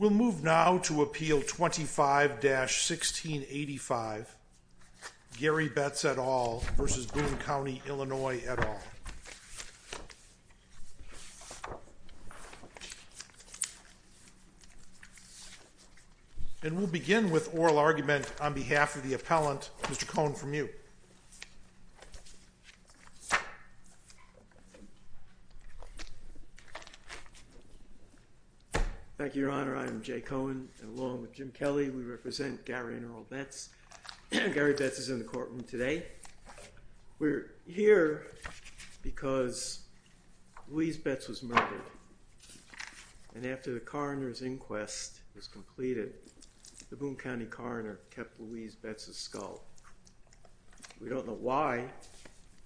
We'll move now to Appeal 25-1685, Gary Betts et al. v. Boone County, Illinois et al. And we'll begin with oral argument on behalf of the appellant, Mr. Cohn, from you. Thank you, Your Honor. I am Jay Cohn, and along with Jim Kelly, we represent Gary and Earl Betts. Gary Betts is in the courtroom today. We're here because Louise Betts was murdered. And after the coroner's inquest was completed, the Boone County coroner kept Louise Betts' skull. We don't know why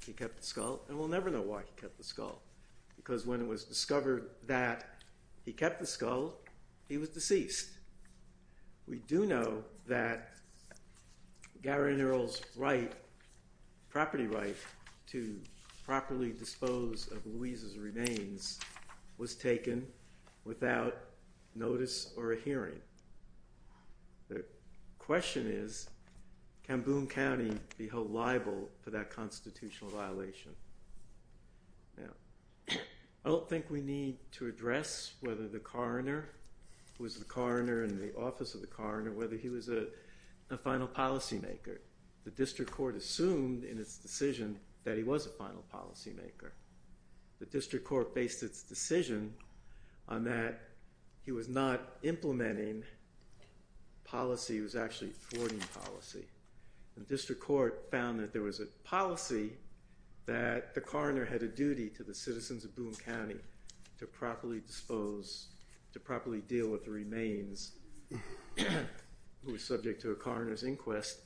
he kept the skull, and we'll never know why he kept the skull. Because when it was discovered that he kept the skull, he was deceased. We do know that Gary and Earl's property right to properly dispose of Louise's remains was taken without notice or a hearing. The question is, can Boone County be held liable for that constitutional violation? I don't think we need to address whether the coroner was the coroner in the office of the coroner, whether he was a final policymaker. The district court assumed in its decision that he was a final policymaker. The district court based its decision on that he was not implementing policy, he was actually thwarting policy. The district court found that there was a policy that the coroner had a duty to the citizens of Boone County to properly dispose, to properly deal with the remains who were subject to a coroner's inquest,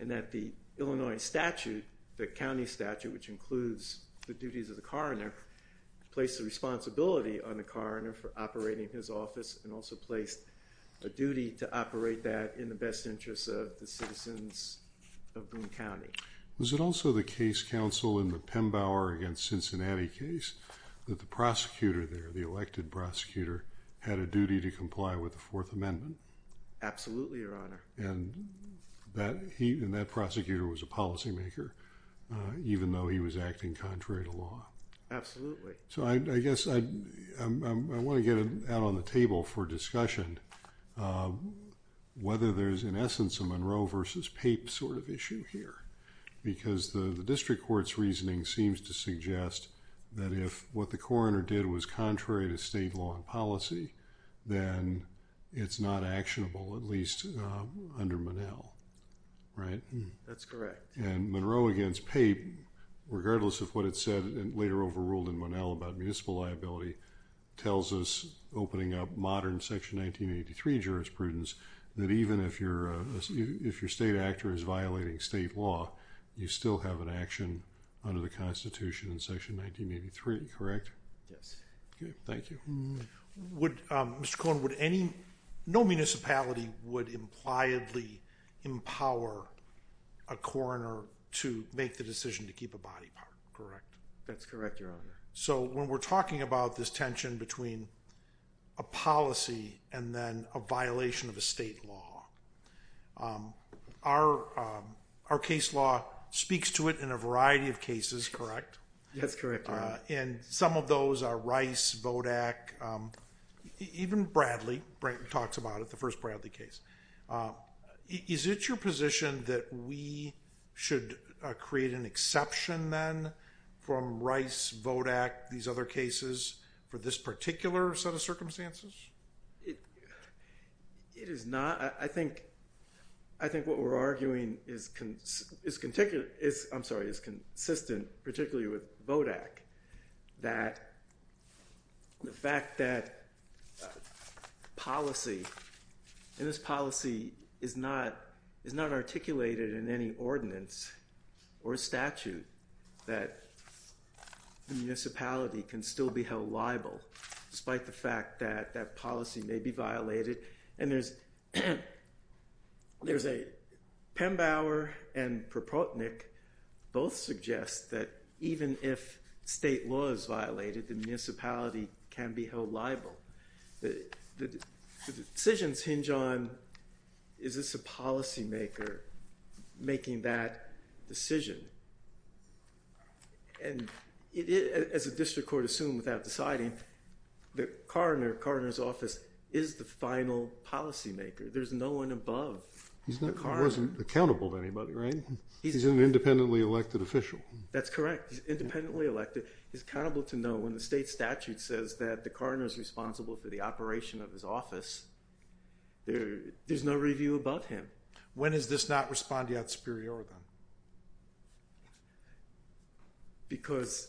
and that the Illinois statute, the county statute, which includes the duties of the coroner, placed the responsibility on the coroner for operating his office, and also placed a duty to operate that in the best interests of the citizens of Boone County. Was it also the case counsel in the Pembauer against Cincinnati case that the prosecutor there, the elected prosecutor, had a duty to comply with the Fourth Amendment? Absolutely, Your Honor. And that prosecutor was a policymaker, even though he was acting contrary to law? Absolutely. So I guess I want to get it out on the table for discussion, whether there's in essence a Monroe versus Pape sort of issue here, because the district court's reasoning seems to suggest that if what the coroner did was contrary to state law and policy, then it's not actionable, at least under Monell, right? That's correct. And Monroe against Pape, regardless of what it said later overruled in Monell about municipal liability, tells us, opening up modern Section 1983 jurisprudence, that even if your state actor is violating state law, you still have an action under the Constitution in Section 1983, correct? Yes. Okay, thank you. Mr. Cohen, no municipality would impliedly empower a coroner to make the decision to keep a body part, correct? That's correct, Your Honor. So when we're talking about this tension between a policy and then a violation of a state law, our case law speaks to it in a variety of cases, correct? That's correct, Your Honor. And some of those are Rice, Vodak, even Bradley. Brayton talks about it, the first Bradley case. Is it your position that we should create an exception then from Rice, Vodak, these other cases for this particular set of circumstances? It is not. I think what we're arguing is consistent, particularly with Vodak, that the fact that policy, and this policy is not articulated in any ordinance or statute, that the municipality can still be held liable despite the fact that that policy may be violated. And there's a Pembauer and Propotnick both suggest that even if state law is violated, the municipality can be held liable. The decisions hinge on is this a policymaker making that decision? And as a district court assumed without deciding, the coroner's office is the final policymaker. There's no one above the coroner. He wasn't accountable to anybody, right? He's an independently elected official. That's correct. He's independently elected. He's accountable to no one. The state statute says that the coroner is responsible for the operation of his office. There's no review above him. When is this not respondeat superior, then? Because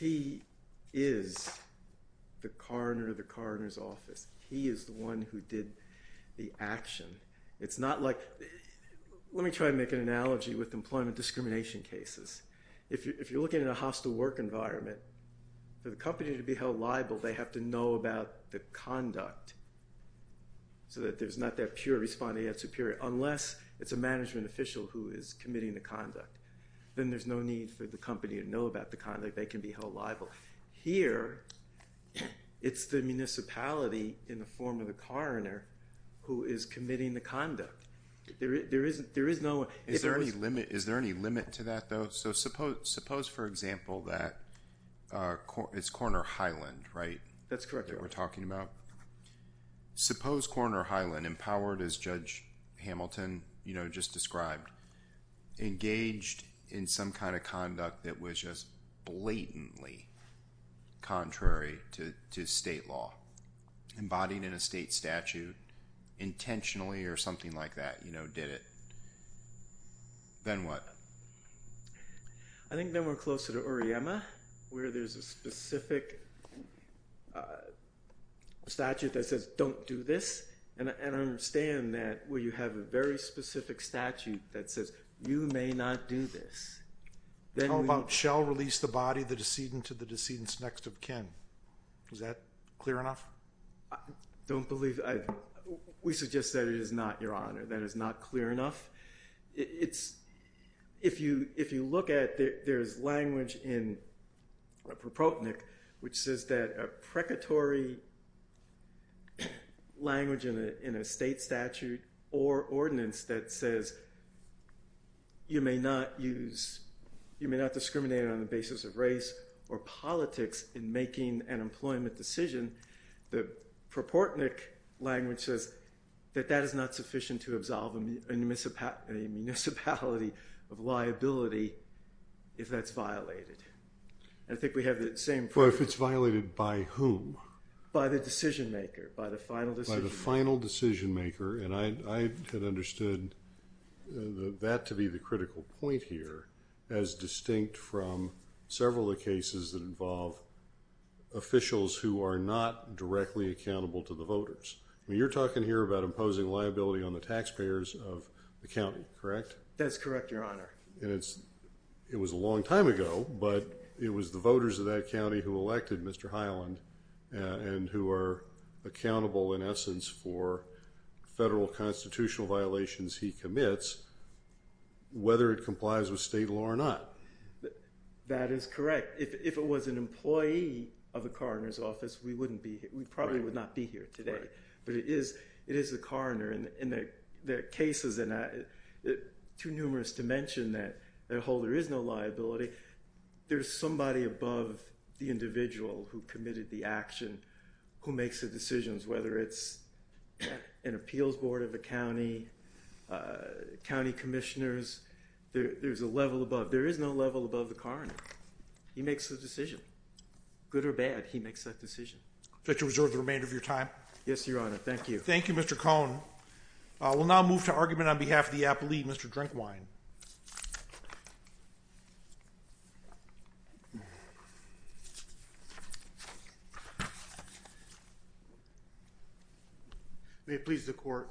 he is the coroner of the coroner's office. He is the one who did the action. It's not like, let me try to make an analogy with employment discrimination cases. If you're looking at a hostile work environment, for the company to be held liable, they have to know about the conduct so that there's not that pure respondeat superior, unless it's a management official who is committing the conduct. Then there's no need for the company to know about the conduct. They can be held liable. Here, it's the municipality in the form of the coroner who is committing the conduct. There is no one. Is there any limit to that, though? Suppose, for example, that it's Coroner Highland, right? That's correct. That we're talking about. Suppose Coroner Highland, empowered as Judge Hamilton just described, engaged in some kind of conduct that was just blatantly contrary to state law, embodied in a state statute intentionally or something like that, did it. Then what? I think then we're closer to Uriema, where there's a specific statute that says, don't do this, and I understand that where you have a very specific statute that says, you may not do this. How about shall release the body, the decedent to the decedent's next of kin? Is that clear enough? Don't believe. We suggest that it is not, Your Honor. That is not clear enough. If you look at it, there's language in Proportnik which says that a precatory language in a state statute or ordinance that says you may not discriminate on the basis of race or politics in making an employment decision, the Proportnik language says that that is not sufficient to absolve a municipality of liability if that's violated. I think we have the same problem. If it's violated by whom? By the decision maker, by the final decision maker. By the final decision maker, and I had understood that to be the critical point here as distinct from several of the cases that involve officials who are not directly accountable to the voters. You're talking here about imposing liability on the taxpayers of the county, correct? That's correct, Your Honor. It was a long time ago, but it was the voters of that county who elected Mr. Highland and who are accountable in essence for federal constitutional violations he commits, whether it complies with state law or not. That is correct. If it was an employee of a coroner's office, we probably would not be here today, but it is the coroner, and there are cases that are too numerous to mention that there is no liability. There's somebody above the individual who committed the action who makes the decisions, whether it's an appeals board of a county, county commissioners. There is no level above the coroner. He makes the decision. Good or bad, he makes that decision. Would you like to reserve the remainder of your time? Yes, Your Honor. Thank you. Thank you, Mr. Cohn. We'll now move to argument on behalf of the applee, Mr. Drinkwine. May it please the Court,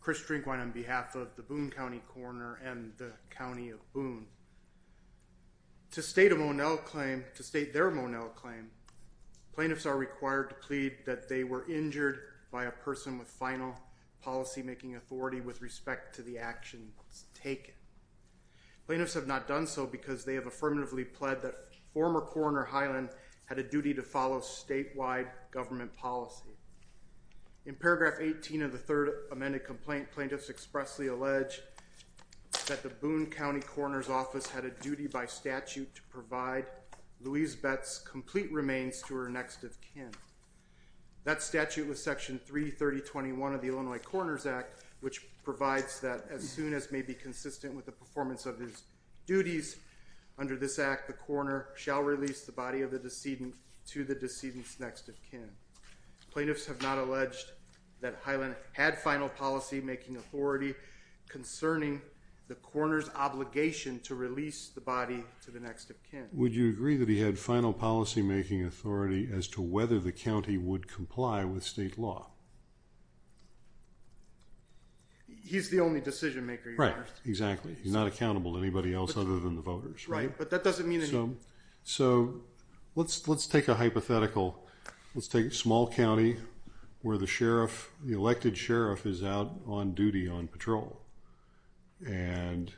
Chris Drinkwine on behalf of the Boone County Coroner and the County of Boone. To state a Monell claim, to state their Monell claim, plaintiffs are required to plead that they were injured by a person with final policymaking authority with respect to the actions taken. Plaintiffs have not done so because they have affirmatively pled that former Coroner Highland had a duty to follow statewide government policy. In paragraph 18 of the third amended complaint, plaintiffs expressly allege that the Boone County Coroner's office had a duty by statute to provide Louise Betts complete remains to her next of kin. That statute was section 33021 of the Illinois Coroner's Act, which provides that as soon as may be consistent with the performance of his duties under this act, the coroner shall release the body of the decedent to the decedent's next of kin. Plaintiffs have not alleged that Highland had final policymaking authority concerning the coroner's obligation to release the body to the next of kin. Would you agree that he had final policymaking authority as to whether the county would comply with state law? He's the only decision maker. Right, exactly. He's not accountable to anybody else other than the voters. Right, but that doesn't mean that he... So let's take a hypothetical. Let's take a small county where the sheriff, the elected sheriff is out on duty on patrol and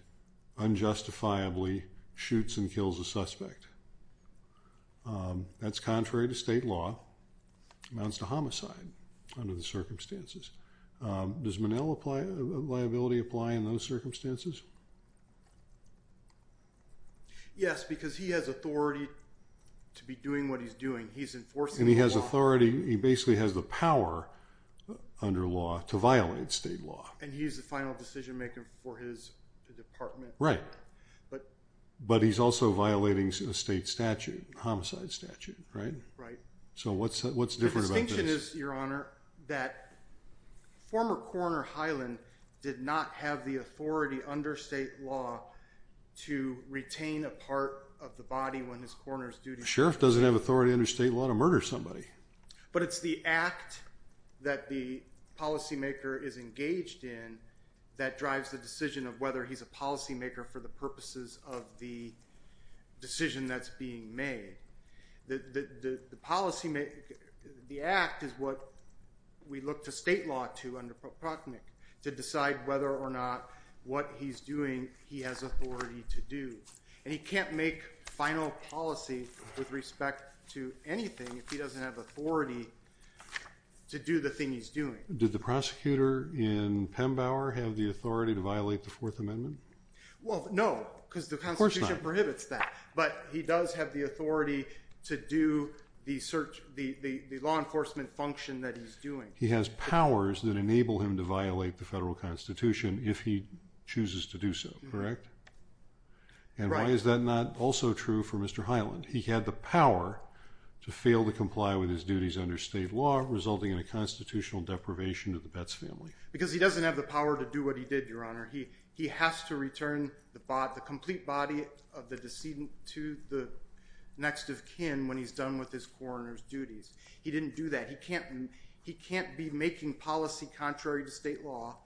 unjustifiably shoots and kills a suspect. That's contrary to state law. Amounts to homicide under the circumstances. Does Monell liability apply in those circumstances? Yes, because he has authority to be doing what he's doing. He's enforcing the law. And he has authority. He basically has the power under law to violate state law. And he's the final decision maker for his department. Right, but he's also violating a state statute, a homicide statute, right? Right. So what's different about this? The distinction is, Your Honor, that former coroner Highland did not have the authority under state law to retain a part of the body when his coroner's duty... The sheriff doesn't have authority under state law to murder somebody. But it's the act that the policymaker is engaged in that drives the decision of whether he's a policymaker for the purposes of the decision that's being made. The policymaker, the act is what we look to state law to under Procter & Nick to decide whether or not what he's doing he has authority to do. And he can't make final policy with respect to anything if he doesn't have authority to do the thing he's doing. Did the prosecutor in Pembauer have the authority to violate the Fourth Amendment? Well, no, because the Constitution prohibits that. But he does have the authority to do the law enforcement function that he's doing. He has powers that enable him to violate the federal Constitution if he chooses to do so, correct? Right. And why is that not also true for Mr. Highland? He had the power to fail to comply with his duties under state law, resulting in a constitutional deprivation of the Betts family. Because he doesn't have the power to do what he did, Your Honor. He has to return the complete body of the decedent to the next of kin when he's done with his coroner's duties. He didn't do that. He can't be making policy contrary to state law.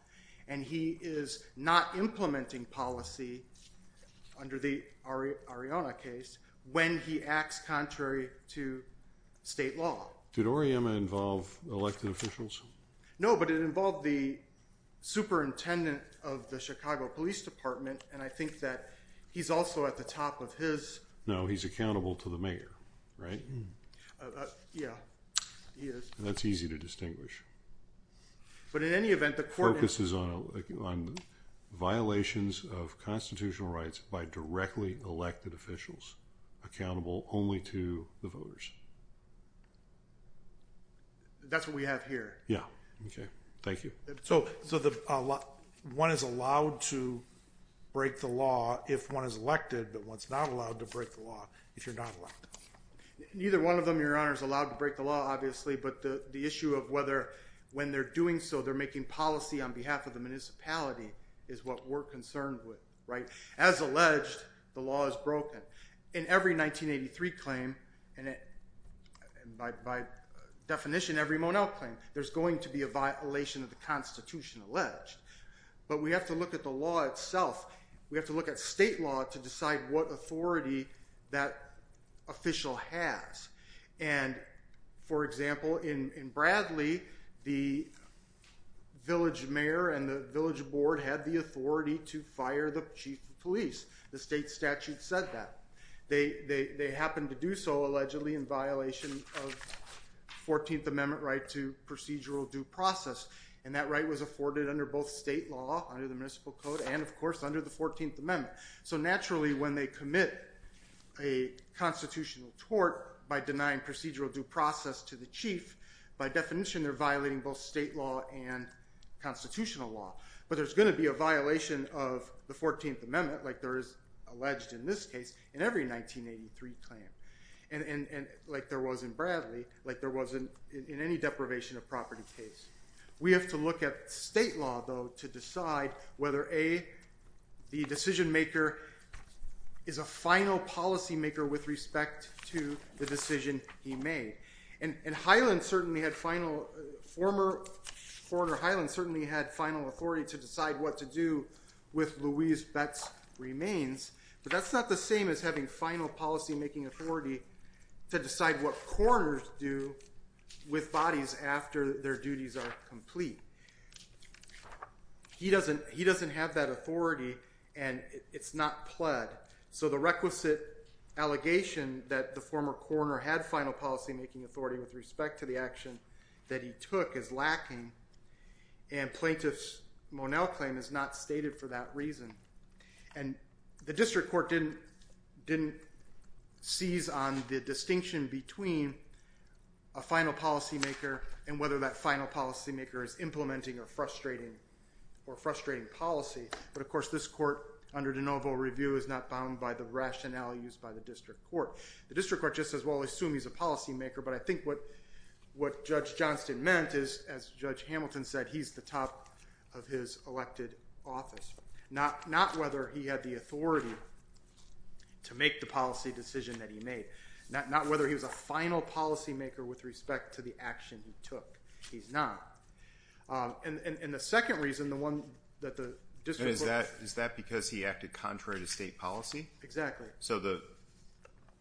And he is not implementing policy under the Arianna case when he acts contrary to state law. Did Oriyama involve elected officials? No, but it involved the superintendent of the Chicago Police Department, and I think that he's also at the top of his... No, he's accountable to the mayor, right? Yeah, he is. That's easy to distinguish. But in any event, the court... Focuses on violations of constitutional rights by directly elected officials, accountable only to the voters. That's what we have here. Yeah. Okay. Thank you. So one is allowed to break the law if one is elected, but one's not allowed to break the law if you're not elected. Neither one of them, Your Honor, is allowed to break the law, obviously, but the issue of whether when they're doing so they're making policy on behalf of the municipality is what we're concerned with, right? As alleged, the law is broken. In every 1983 claim, and by definition, every Monell claim, there's going to be a violation of the Constitution alleged. But we have to look at the law itself. We have to look at state law to decide what authority that official has. And, for example, in Bradley, the village mayor and the village board had the authority to fire the chief of police. The state statute said that. They happened to do so allegedly in violation of 14th Amendment right to procedural due process, and that right was afforded under both state law, under the municipal code, and, of course, under the 14th Amendment. So naturally when they commit a constitutional tort by denying procedural due process to the chief, by definition, they're violating both state law and constitutional law. But there's going to be a violation of the 14th Amendment, like there is alleged in this case, in every 1983 claim. And like there was in Bradley, like there was in any deprivation of property case. We have to look at state law, though, to decide whether, A, the decision maker is a final policymaker with respect to the decision he made. And Highland certainly had final – former foreigner Highland certainly had final authority to decide what to do with Louise Betts' remains. But that's not the same as having final policymaking authority to decide what coroners do with bodies after their duties are complete. He doesn't have that authority, and it's not pled. So the requisite allegation that the former coroner had final policymaking authority with respect to the action that he took is lacking, and Plaintiff's Monell claim is not stated for that reason. And the district court didn't seize on the distinction between a final policymaker and whether that final policymaker is implementing or frustrating policy. But, of course, this court, under de novo review, is not bound by the rationale used by the district court. The district court just says, well, we'll assume he's a policymaker, but I think what Judge Johnston meant is, as Judge Hamilton said, he's the top of his elected office. Not whether he had the authority to make the policy decision that he made. Not whether he was a final policymaker with respect to the action he took. He's not. And the second reason, the one that the district court – And is that because he acted contrary to state policy? Exactly. So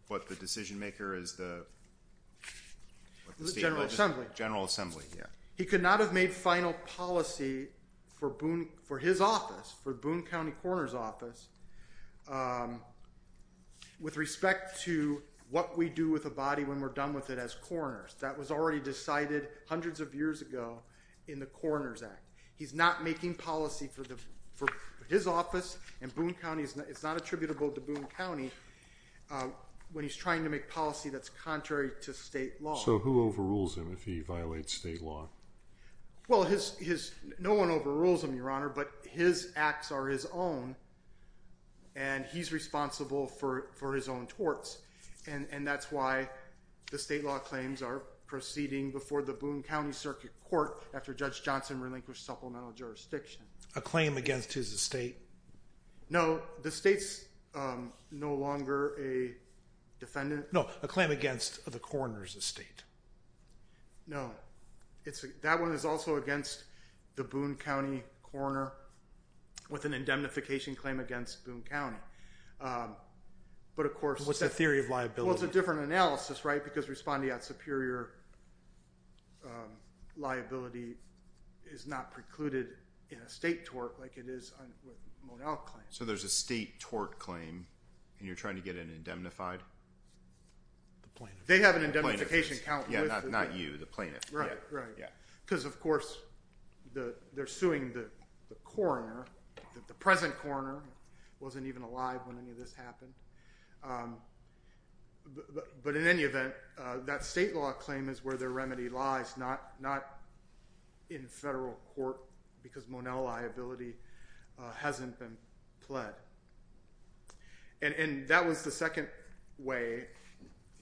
what the decision-maker is the – General Assembly. General Assembly, yeah. He could not have made final policy for his office, for Boone County Coroner's Office, with respect to what we do with a body when we're done with it as coroners. That was already decided hundreds of years ago in the Coroner's Act. He's not making policy for his office, and Boone County is not attributable to Boone County when he's trying to make policy that's contrary to state law. So who overrules him if he violates state law? Well, his – no one overrules him, Your Honor, but his acts are his own, and he's responsible for his own torts. And that's why the state law claims are proceeding before the Boone County Circuit Court after Judge Johnston relinquished supplemental jurisdiction. A claim against his estate? No, the state's no longer a defendant. No, a claim against the coroner's estate. No. That one is also against the Boone County coroner with an indemnification claim against Boone County. But of course – What's the theory of liability? Well, it's a different analysis, right, because respondeat superior liability is not precluded in a state tort like it is with a Monell claim. So there's a state tort claim, and you're trying to get it indemnified? They have an indemnification count. Yeah, not you, the plaintiff. Right, right. Yeah. Because, of course, they're suing the coroner, the present coroner wasn't even alive when any of this happened. But in any event, that state law claim is where their remedy lies, not in federal court because Monell liability hasn't been pled. And that was the second way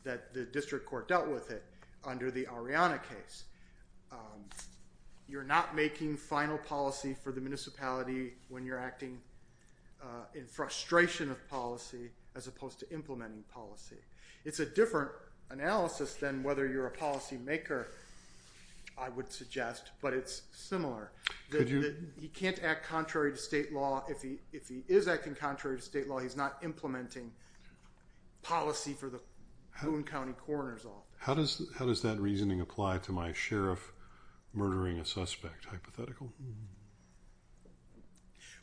that the district court dealt with it under the Ariana case. You're not making final policy for the municipality when you're acting in frustration of policy as opposed to implementing policy. It's a different analysis than whether you're a policymaker, I would suggest, but it's similar. He can't act contrary to state law. If he is acting contrary to state law, he's not implementing policy for the Boone County coroner's office. How does that reasoning apply to my sheriff murdering a suspect hypothetical?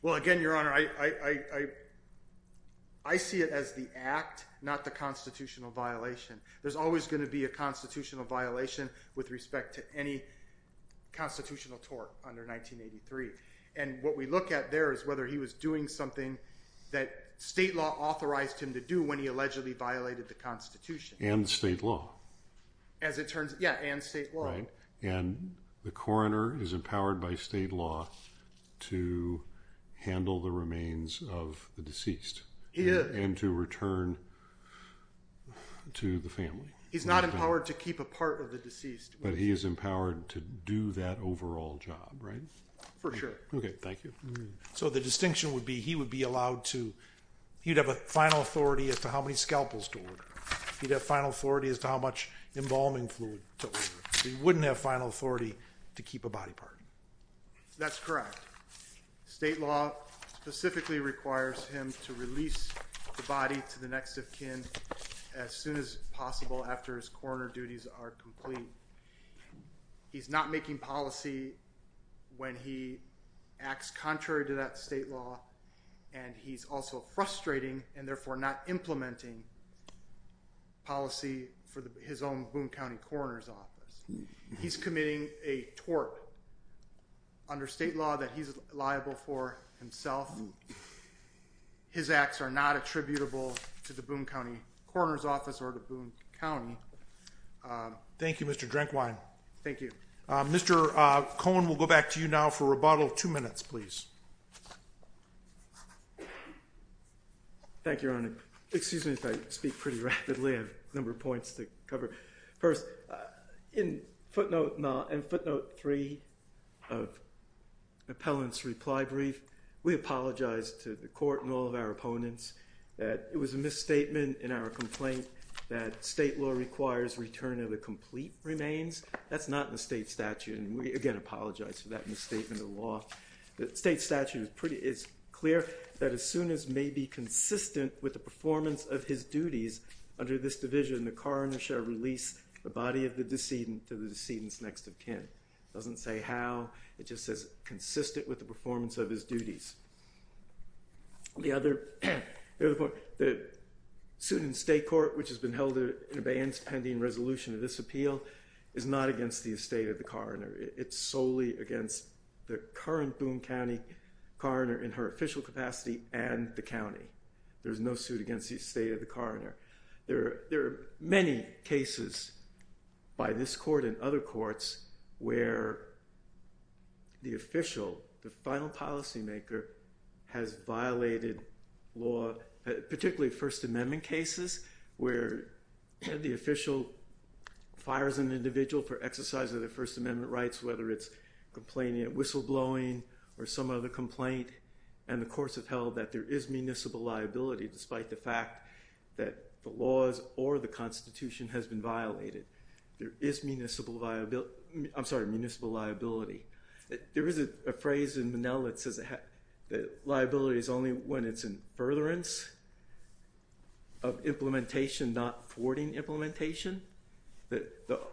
Well, again, Your Honor, I see it as the act, not the constitutional violation. There's always going to be a constitutional violation with respect to any constitutional tort under 1983. And what we look at there is whether he was doing something that state law authorized him to do when he allegedly violated the Constitution. And state law. As it turns out, yeah, and state law. And the coroner is empowered by state law to handle the remains of the deceased. He is. And to return to the family. He's not empowered to keep a part of the deceased. But he is empowered to do that overall job, right? For sure. Okay, thank you. So the distinction would be he would be allowed to, he'd have a final authority as to how many scalpels to order. He'd have final authority as to how much embalming fluid to order. He wouldn't have final authority to keep a body part. That's correct. State law specifically requires him to release the body to the next of kin as soon as possible after his coroner duties are complete. He's not making policy when he acts contrary to that state law, and he's also frustrating and therefore not implementing policy for his own Boone County Coroner's Office. He's committing a tort under state law that he's liable for himself. His acts are not attributable to the Boone County Coroner's Office or to Boone County. Thank you, Mr. Drenkwein. Thank you. Mr. Cohen, we'll go back to you now for rebuttal. Two minutes, please. Thank you, Your Honor. Excuse me if I speak pretty rapidly. I have a number of points to cover. First, in footnote 3 of the appellant's reply brief, we apologized to the court and all of our opponents that it was a misstatement in our complaint that state law requires return of the complete remains. That's not in the state statute, and we again apologize for that misstatement of the law. The state statute is clear that as soon as may be consistent with the performance of his duties under this division, the coroner shall release the body of the decedent to the decedent's next of kin. It doesn't say how. It just says consistent with the performance of his duties. The other point, the student state court, which has been held in abeyance pending resolution of this appeal, is not against the estate of the coroner. It's solely against the current Boone County coroner in her official capacity and the county. There's no suit against the estate of the coroner. There are many cases by this court and other courts where the official, the final policymaker, has violated law, particularly First Amendment cases where the official fires an individual for exercise of their First Amendment rights, whether it's complaining of whistleblowing or some other complaint, and the courts have held that there is municipal liability despite the fact that the laws or the Constitution has been violated. There is municipal liability. There is a phrase in Monell that says that liability is only when it's in furtherance of implementation, not thwarting implementation. That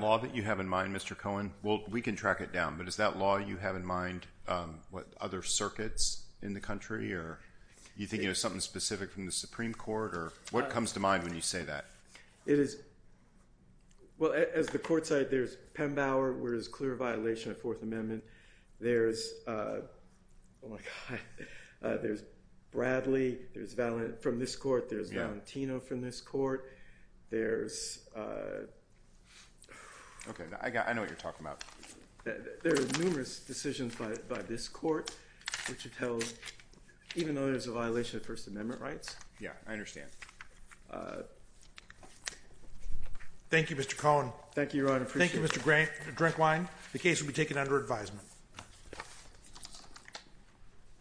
law that you have in mind, Mr. Cohen, well, we can track it down, but is that law you have in mind with other circuits in the country or do you think there's something specific from the Supreme Court or what comes to mind when you say that? It is, well, as the court said, there's Pembauer where there's clear violation of Fourth Amendment. There's Bradley from this court. There's Valentino from this court. There's numerous decisions by this court which have held even though there's a violation of First Amendment rights. Yeah, I understand. Thank you, Mr. Cohen. Thank you, Your Honor. Thank you, Mr. Drinkwine. The case will be taken under advisement.